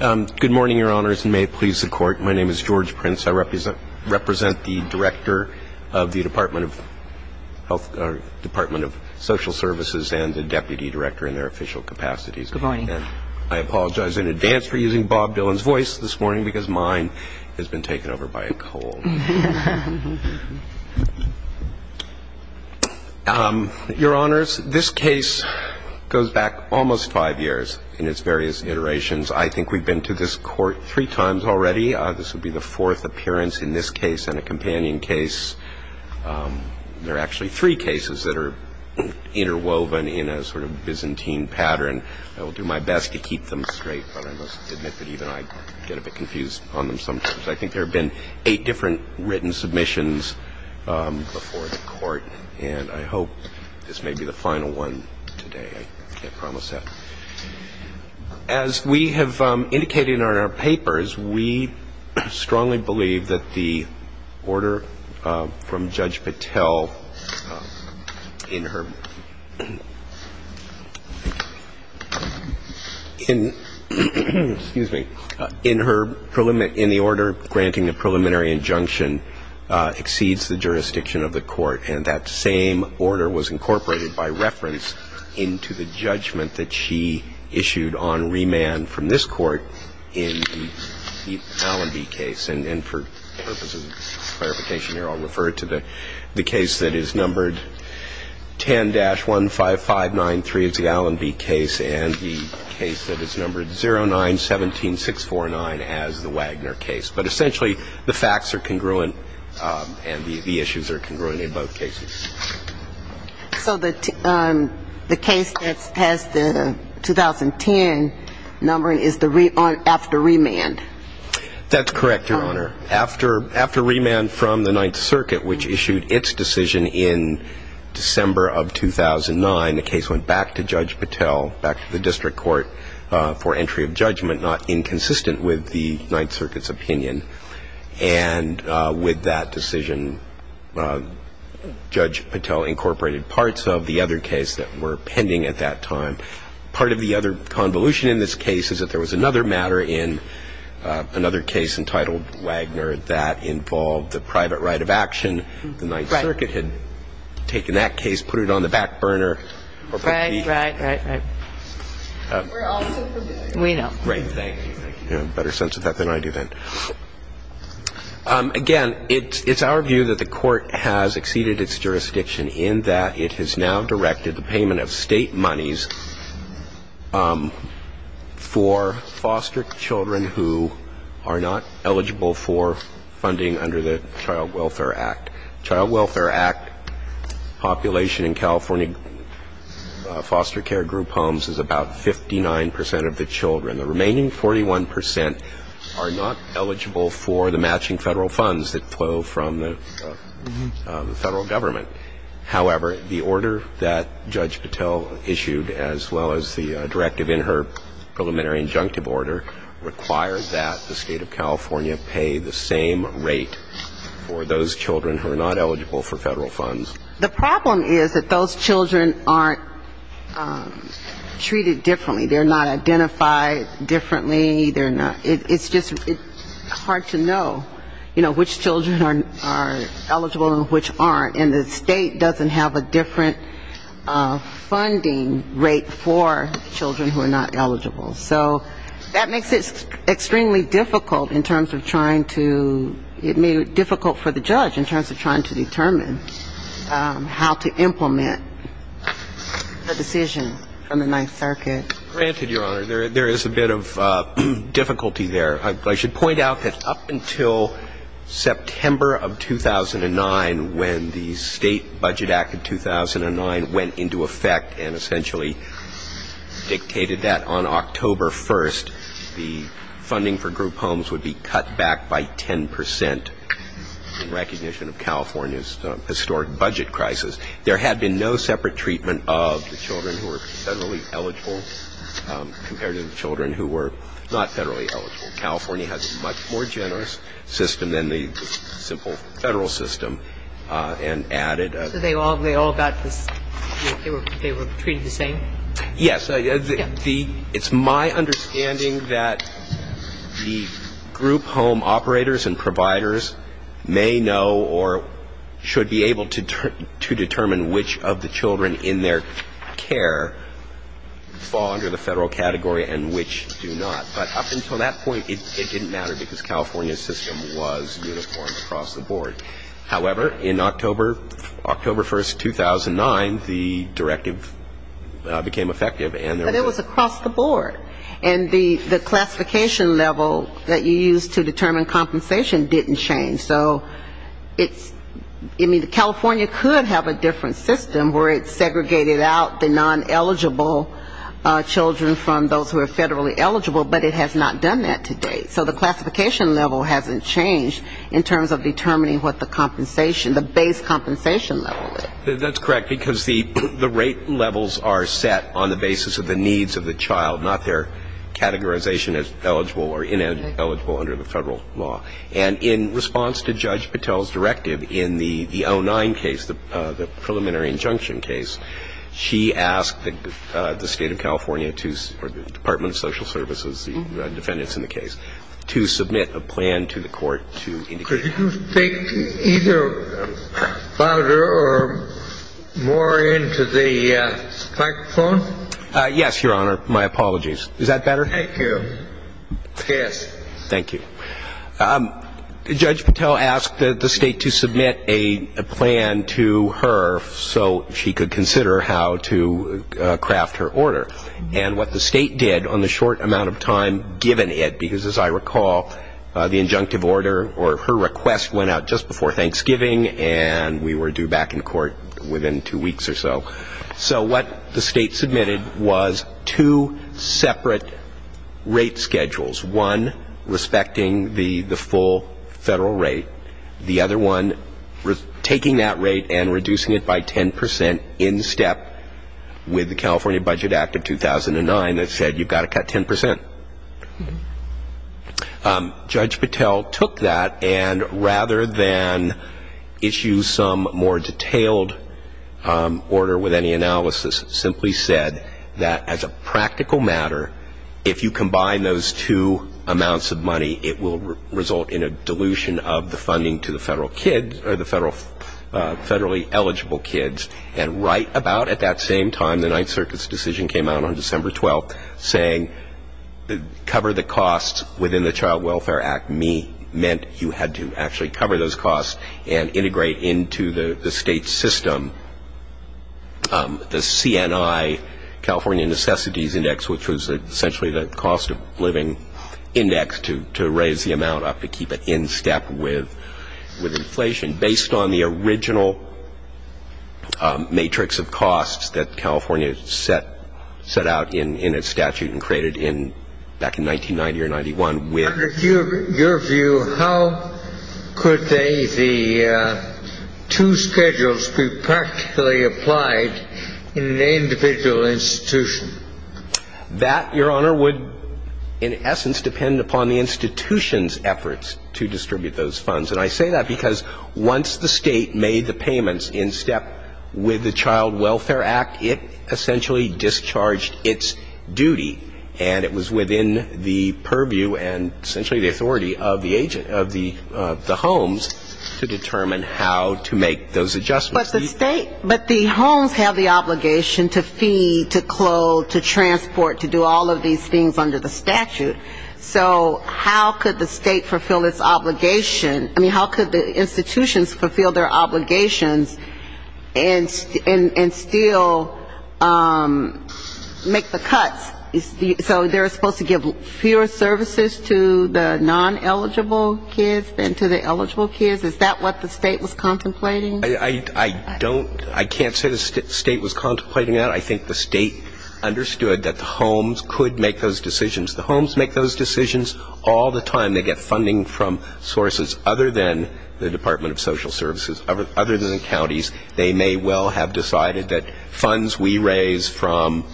Good morning, Your Honors, and may it please the Court, my name is George Prince. I represent the Director of the Department of Social Services and the Deputy Director in their official capacities. Good morning. I apologize in advance for using Bob Dylan's voice this morning because mine has been taken over by a cold. Your Honors, this case goes back almost five years in its various iterations. I think we've been to this Court three times already. This will be the fourth appearance in this case and a companion case. There are actually three cases that are interwoven in a sort of Byzantine pattern. I will do my best to keep them straight, but I must admit that even I get a bit confused on them sometimes. I think there have been eight different written submissions before the Court, and I hope this may be the final one today. I can't promise that. As we have indicated in our papers, we strongly believe that the order from Judge Patel in her in the order granting the preliminary injunction exceeds the jurisdiction of the Court, and that same order was incorporated by reference into the judgment that she issued on remand from this Court in the Allenby case. And for purposes of clarification here, I'll refer to the case that is numbered 10, 15593 is the Allenby case and the case that is numbered 0917649 as the Wagner case. But essentially the facts are congruent and the issues are congruent in both cases. So the case that has the 2010 numbering is after remand? That's correct, Your Honor. After remand from the Ninth Circuit, which issued its decision in December of 2009, the case went back to Judge Patel, back to the district court for entry of judgment, not inconsistent with the Ninth Circuit's opinion. And with that decision, Judge Patel incorporated parts of the other case that were pending at that time. Part of the other convolution in this case is that there was another matter in another case entitled Wagner that involved the private right of action. The Ninth Circuit had taken that case, put it on the back burner. Right, right, right, right. We know. Right. Thank you. You have a better sense of that than I do then. Again, it's our view that the Court has exceeded its jurisdiction in that it has now directed the payment of State monies for foster children who are not eligible for funding under the Child Welfare Act. Child Welfare Act population in California foster care group homes is about 59 percent of the children. The remaining 41 percent are not eligible for the matching Federal funds that flow from the Federal Government. However, the order that Judge Patel issued, as well as the directive in her preliminary injunctive order, requires that the State of California pay the same rate for those children who are not eligible for Federal funds. The problem is that those children aren't treated differently. They're not identified differently. It's just hard to know, you know, which children are eligible and which aren't. And the State doesn't have a different funding rate for children who are not eligible. So that makes it extremely difficult in terms of trying to ‑‑ it made it difficult for the judge in terms of trying to determine how to implement the decision from the Ninth Circuit. Granted, Your Honor, there is a bit of difficulty there. I should point out that up until September of 2009, when the State Budget Act of 2009 went into effect and essentially dictated that on October 1st, the funding for group homes would be cut back by 10 percent, in recognition of California's historic budget crisis. There had been no separate treatment of the children who were Federally eligible compared to the children who were not Federally eligible. California has a much more generous system than the simple Federal system, and added ‑‑ So they all got this ‑‑ they were treated the same? Yes. It's my understanding that the group home operators and providers may know or should be able to determine which of the children in their care fall under the Federal category and which do not. But up until that point, it didn't matter, because California's system was uniform across the board. However, in October 1st, 2009, the directive became effective. But it was across the board. And the classification level that you used to determine compensation didn't change. So it's ‑‑ I mean, California could have a different system where it segregated out the non‑eligible children from those who are Federally eligible, but it has not done that to date. So the classification level hasn't changed in terms of determining what the compensation, the base compensation level is. That's correct, because the rate levels are set on the basis of the needs of the child, not their categorization as eligible or ineligible under the Federal law. And in response to Judge Patel's directive in the 09 case, the preliminary injunction case, she asked the State of California to ‑‑ or the Department of Social Services, the defendants in the case, to submit a plan to the court to indicate ‑‑ Could you speak either louder or more into the microphone? Yes, Your Honor. My apologies. Is that better? Thank you. Yes. Thank you. Judge Patel asked the State to submit a plan to her so she could consider how to craft her order. And what the State did on the short amount of time given it, because as I recall the injunctive order or her request went out just before Thanksgiving and we were due back in court within two weeks or so. So what the State submitted was two separate rate schedules, one respecting the full Federal rate, the other one taking that rate and reducing it by 10% in step with the California Budget Act of 2009 that said you've got to cut 10%. Judge Patel took that and rather than issue some more detailed order with any analysis, simply said that as a practical matter, if you combine those two amounts of money, it will result in a dilution of the funding to the Federal kids or the Federally eligible kids. And right about at that same time, the Ninth Circuit's decision came out on December 12th saying cover the costs within the Child Welfare Act, me, meant you had to actually cover those costs and integrate into the State's system. The CNI, California Necessities Index, which was essentially the cost of living index to raise the amount up to keep it in step with inflation, based on the original matrix of costs that California set out in its statute and created back in 1990 or 91 with Your view, how could the two schedules be practically applied in an individual institution? That, Your Honor, would in essence depend upon the institution's efforts to distribute those funds. And I say that because once the State made the payments in step with the Child Welfare Act, it essentially discharged its duty. And it was within the purview and essentially the authority of the agent, of the homes, to determine how to make those adjustments. But the State, but the homes have the obligation to feed, to clothe, to transport, to do all of these things under the statute. So how could the State fulfill its obligation? I mean, how could the institutions fulfill their obligations and still make the cuts? So they're supposed to give fewer services to the non-eligible kids than to the eligible kids? Is that what the State was contemplating? I don't, I can't say the State was contemplating that. I think the State understood that the homes could make those decisions. The homes make those decisions all the time. They get funding from sources other than the Department of Social Services, other than counties. They may well have decided that funds we raise from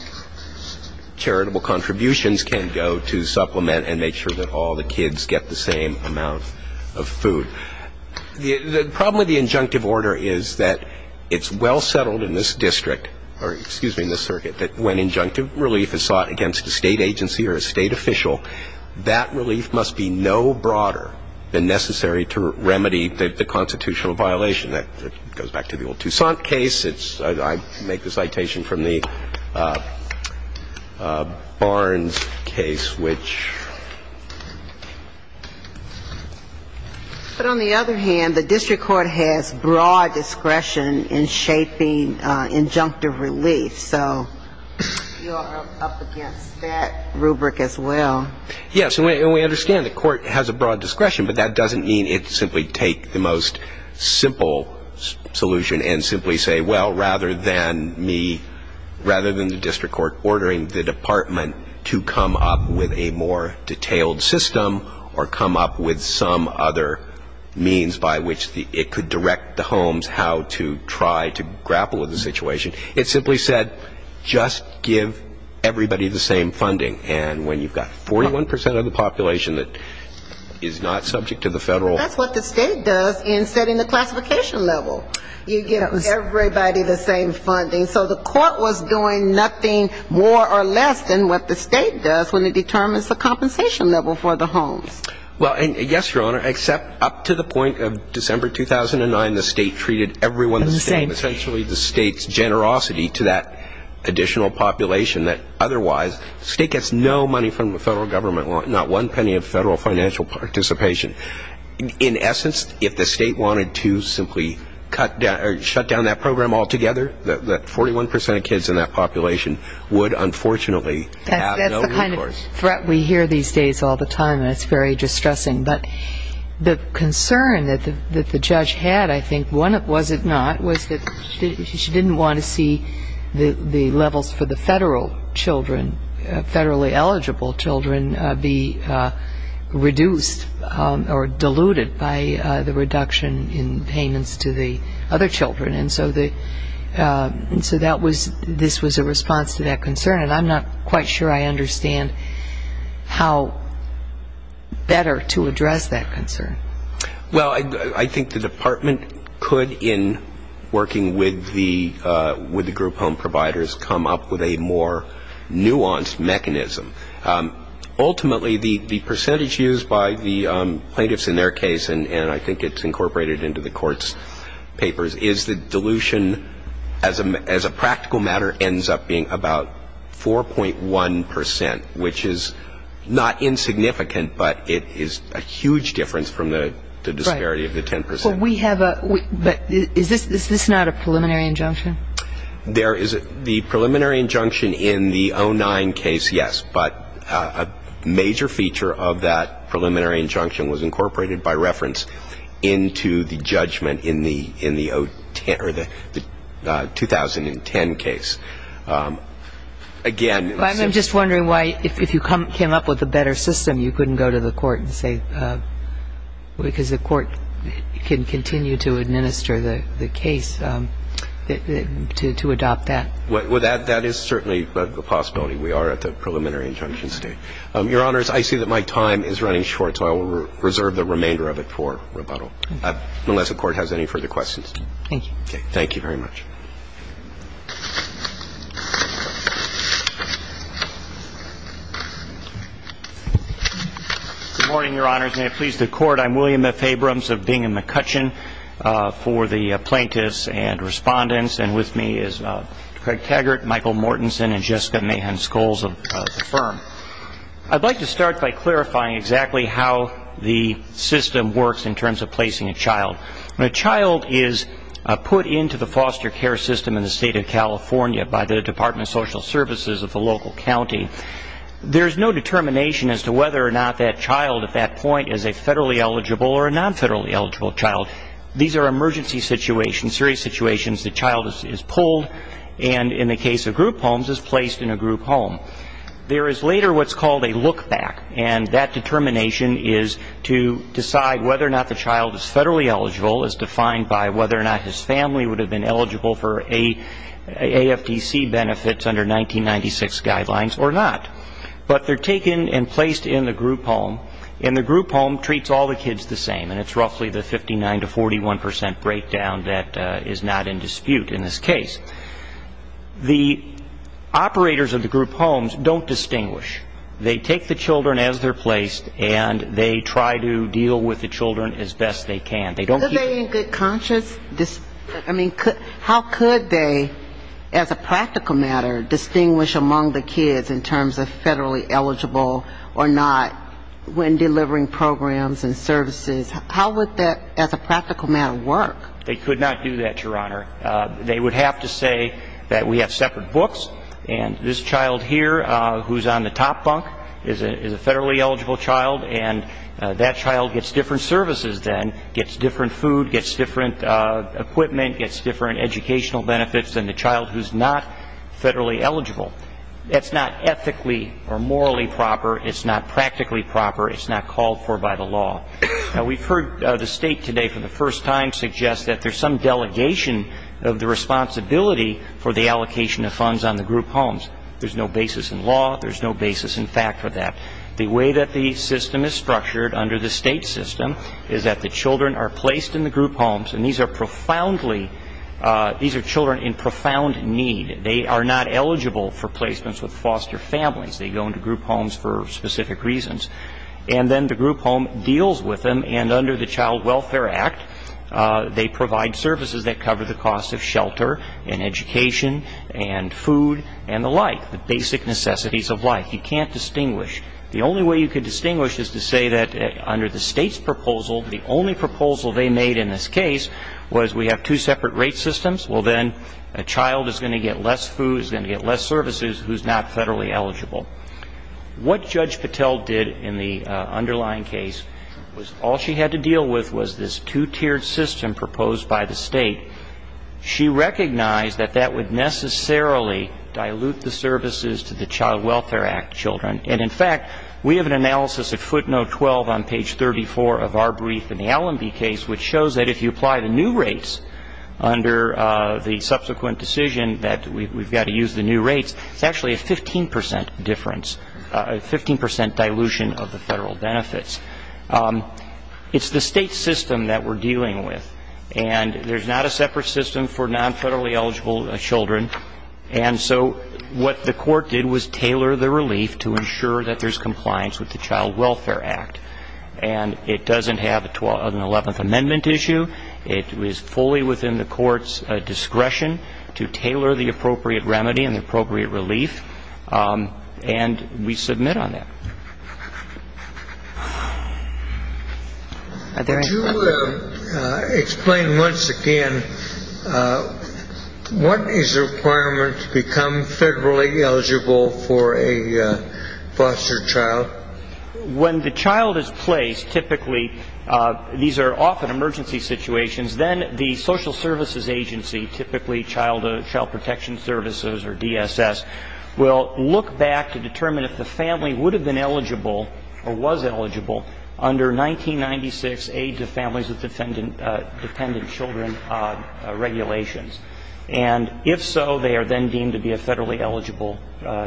charitable contributions can go to supplement and make sure that all the kids get the same amount of food. The problem with the injunctive order is that it's well settled in this district, or excuse me, in this circuit, that when injunctive relief is sought against a State agency or a State official, that relief must be no broader than necessary to remedy the constitutional violation. That goes back to the old Toussaint case. I make the citation from the Barnes case, which ‑‑ But on the other hand, the district court has broad discretion in shaping injunctive relief. So you're up against that rubric as well. Yes, and we understand the court has a broad discretion, but that doesn't mean it simply take the most simple solution and simply say, well, rather than me, rather than the district court ordering the department to come up with a more detailed system or come up with some other means by which it could direct the homes how to try to grapple with the situation. It simply said, just give everybody the same funding. And when you've got 41% of the population that is not subject to the federal ‑‑ But that's what the State does in setting the classification level. You give everybody the same funding. So the court was doing nothing more or less than what the State does when it determines the compensation level for the homes. Well, and yes, Your Honor, except up to the point of December 2009, the State treated everyone the same. And essentially the State's generosity to that additional population that otherwise, the State gets no money from the federal government, not one penny of federal financial participation. In essence, if the State wanted to simply cut down or shut down that program altogether, that 41% of kids in that population would unfortunately have no recourse. That's the kind of threat we hear these days all the time, and it's very distressing. But the concern that the judge had, I think, was it not, was that she didn't want to see the levels for the federal children, federally eligible children, be reduced or diluted by the reduction in payments to the other children. And so this was a response to that concern. And I'm not quite sure I understand how better to address that concern. Well, I think the Department could, in working with the group home providers, come up with a more nuanced mechanism. Ultimately, the percentage used by the plaintiffs in their case, and I think it's incorporated into the court's papers, is the dilution, as a practical matter, ends up being about 4.1%, which is not insignificant, but it is a huge difference from the disparity of the 10%. Right. But is this not a preliminary injunction? The preliminary injunction in the 09 case, yes, but a major feature of that preliminary injunction was incorporated, by reference, into the judgment in the 2010 case. Again, in the sense of the... Well, I'm just wondering why, if you came up with a better system, you couldn't go to the court and say, because the court can continue to administer the case, to adopt that. Well, that is certainly the possibility. We are at the preliminary injunction state. Your Honors, I see that my time is running short, so I will reserve the remainder of it for rebuttal, unless the Court has any further questions. Thank you. Thank you very much. Good morning, Your Honors. May it please the Court, I'm William F. Abrams of Bingham McCutcheon. For the plaintiffs and respondents, and with me is Craig Taggart, Michael Mortenson, and Jessica Mahan-Scholes of the firm. I'd like to start by clarifying exactly how the system works in terms of placing a child. When a child is put into the foster care system in the State of California by the Department of Social Services of the local county, there is no determination as to whether or not that child, at that point, is a federally eligible or a non-federally eligible child. These are emergency situations, serious situations. The child is pulled and, in the case of group homes, is placed in a group home. There is later what's called a look-back, and that determination is to decide whether or not the child is federally eligible, as defined by whether or not his family would have been eligible for AFDC benefits under 1996 guidelines or not. But they're taken and placed in the group home. And the group home treats all the kids the same, and it's roughly the 59 to 41 percent breakdown that is not in dispute in this case. The operators of the group homes don't distinguish. They take the children as they're placed, and they try to deal with the children as best they can. They don't keep them. Are they in good conscience? I mean, how could they, as a practical matter, distinguish among the kids in terms of federally eligible or not when delivering programs and services? How would that, as a practical matter, work? They could not do that, Your Honor. They would have to say that we have separate books, and this child here who's on the top bunk is a federally eligible child, and that child gets different services then, gets different food, gets different equipment, gets different educational benefits than the child who's not federally eligible. That's not ethically or morally proper. It's not practically proper. It's not called for by the law. Now, we've heard the State today for the first time suggest that there's some delegation of the responsibility for the allocation of funds on the group homes. There's no basis in law. There's no basis in fact for that. The way that the system is structured under the State system is that the children are placed in the group homes, and these are profoundly children in profound need. They are not eligible for placements with foster families. They go into group homes for specific reasons. And then the group home deals with them, and under the Child Welfare Act, they provide services that cover the costs of shelter and education and food and the like, the basic necessities of life. You can't distinguish. The only way you could distinguish is to say that under the State's proposal, the only proposal they made in this case was we have two separate rate systems. Well, then a child is going to get less food, is going to get less services, who's not federally eligible. What Judge Patel did in the underlying case was all she had to deal with was this two-tiered system proposed by the State. She recognized that that would necessarily dilute the services to the Child Welfare Act children. And, in fact, we have an analysis at footnote 12 on page 34 of our brief in the Allenby case, which shows that if you apply the new rates under the subsequent decision that we've got to use the new rates, it's actually a 15% difference, a 15% dilution of the federal benefits. It's the State system that we're dealing with, and there's not a separate system for non-federally eligible children. And so what the Court did was tailor the relief to ensure that there's compliance with the Child Welfare Act. And it doesn't have an 11th Amendment issue. It is fully within the Court's discretion to tailor the appropriate remedy and the appropriate relief. And we submit on that. Are there any questions? Could you explain once again what is the requirement to become federally eligible for a foster child? When the child is placed, typically these are often emergency situations, then the social services agency, typically Child Protection Services or DSS, will look back to determine if the family would have been eligible or was eligible under 1996 Age of Families with Dependent Children regulations. And if so, they are then deemed to be a federally eligible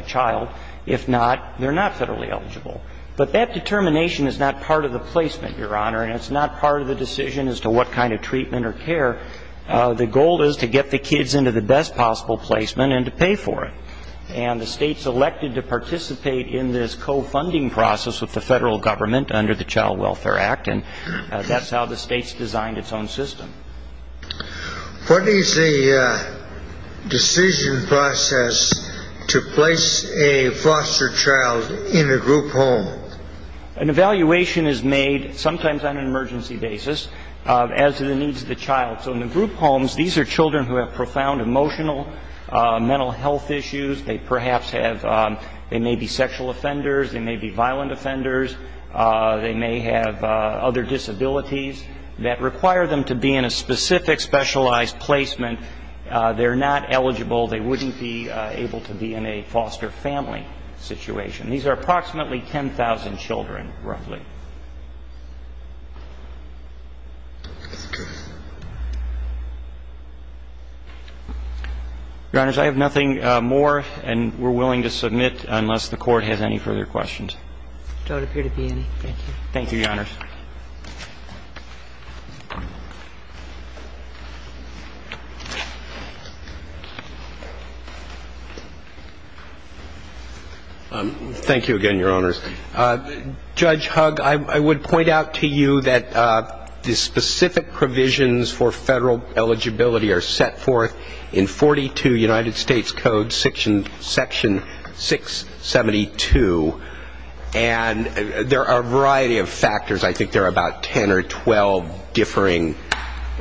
child. If not, they're not federally eligible. But that determination is not part of the placement, Your Honor, and it's not part of the decision as to what kind of treatment or care. The goal is to get the kids into the best possible placement and to pay for it. And the state's elected to participate in this co-funding process with the federal government under the Child Welfare Act, and that's how the state's designed its own system. What is the decision process to place a foster child in a group home? An evaluation is made sometimes on an emergency basis as to the needs of the child. So in the group homes, these are children who have profound emotional, mental health issues. They perhaps have they may be sexual offenders. They may be violent offenders. They may have other disabilities that require them to be in a specific specialized placement. They're not eligible. They wouldn't be able to be in a foster family situation. These are approximately 10,000 children, roughly. Your Honors, I have nothing more, and we're willing to submit unless the Court has any further questions. There don't appear to be any. Thank you. Thank you, Your Honors. Thank you again, Your Honors. Judge Hugg, I would point out to you that the specific provisions for federal eligibility are set forth in 42 United States Code Section 672, and there are a variety of factors. I think there are about 10 or 12 differing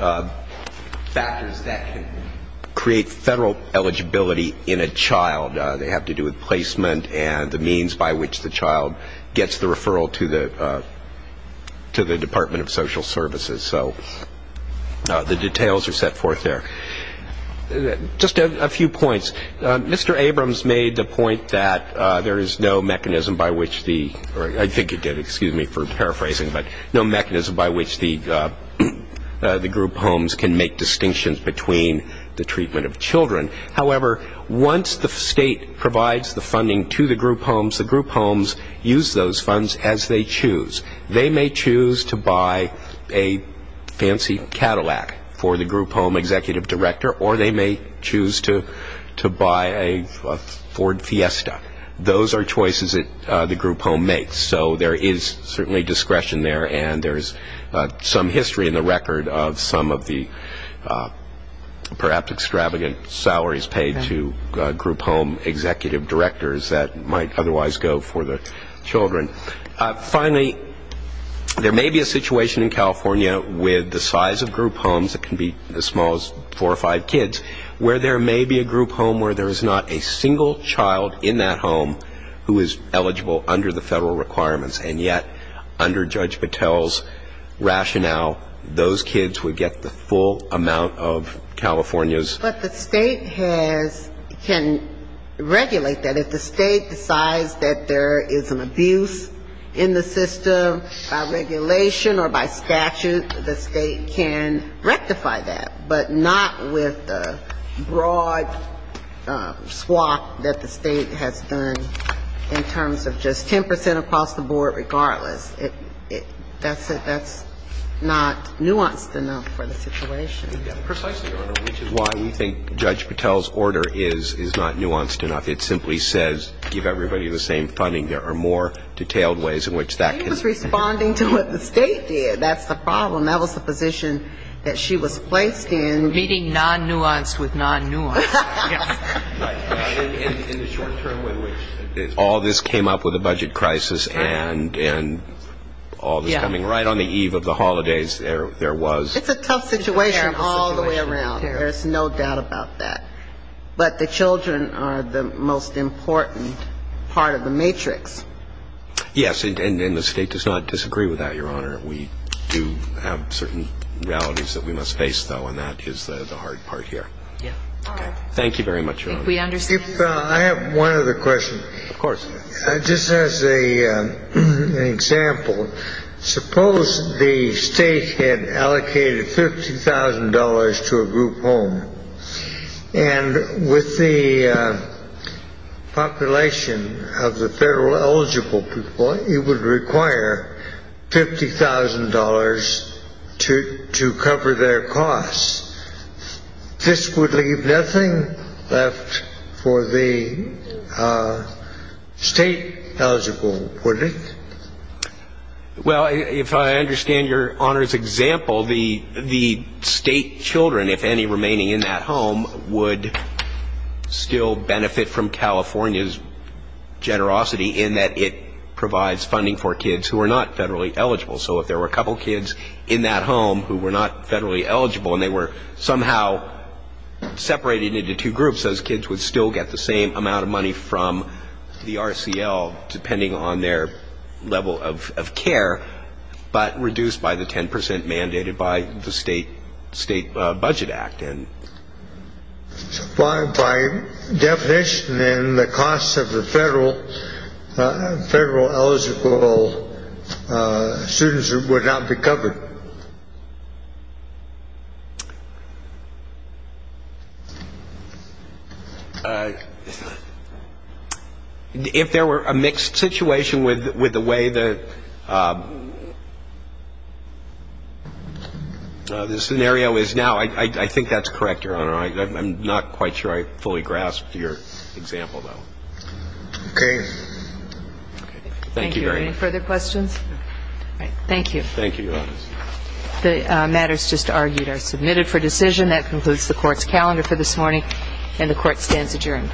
factors that can create federal eligibility in a child. They have to do with placement and the means by which the child gets the referral to the Department of Social Services. So the details are set forth there. Just a few points. Mr. Abrams made the point that there is no mechanism by which the group homes can make distinctions between the treatment of children. However, once the state provides the funding to the group homes, the group homes use those funds as they choose. They may choose to buy a fancy Cadillac for the group home executive director, or they may choose to buy a Ford Fiesta. Those are choices that the group home makes. So there is certainly discretion there, and there is some history in the record of some of the perhaps extravagant salaries paid to group home executive directors that might otherwise go for the children. Finally, there may be a situation in California with the size of group homes, it can be as small as four or five kids, where there may be a group home where there is not a single child in that home who is eligible under the federal requirements, and yet under Judge Patel's rationale, those kids would get the full amount of California's. But the state has, can regulate that. If the state decides that there is an abuse in the system by regulation or by statute, the state can rectify that, but not with the broad swap that the state has done in terms of just 10 percent across the board regardless. That's not nuanced enough for the situation. Precisely, which is why we think Judge Patel's order is not nuanced enough. It simply says give everybody the same funding. There are more detailed ways in which that can be done. He was responding to what the state did. That's the problem. That was the position that she was placed in. Meeting non-nuanced with non-nuanced. Right. In the short-term way in which all this came up with the budget crisis and all this coming right on the eve of the holidays, there was. It's a tough situation all the way around. There's no doubt about that. But the children are the most important part of the matrix. Yes. And the state does not disagree with that, Your Honor. We do have certain realities that we must face, though, and that is the hard part here. Thank you very much, Your Honor. I have one other question. Of course. Just as an example, suppose the state had allocated $50,000 to a group home. And with the population of the federal eligible people, it would require $50,000 to cover their costs. This would leave nothing left for the state eligible, wouldn't it? Well, if I understand Your Honor's example, the state children, if any remaining in that home, would still benefit from California's generosity in that it provides funding for kids who are not federally eligible. So if there were a couple kids in that home who were not federally eligible and they were somehow separated into two groups, those kids would still get the same amount of money from the RCL, depending on their level of care, but reduced by the 10 percent mandated by the State Budget Act. By definition, then, the costs of the federal eligible students would not be covered. If there were a mixed situation with the way the scenario is now, I think that's correct, Your Honor. I'm not quite sure I fully grasped your example, though. Okay. Thank you very much. Thank you. Any further questions? All right. Thank you. Thank you, Your Honor. The matters just argued are submitted for decision. That concludes the Court's calendar for this morning. And the Court stands adjourned.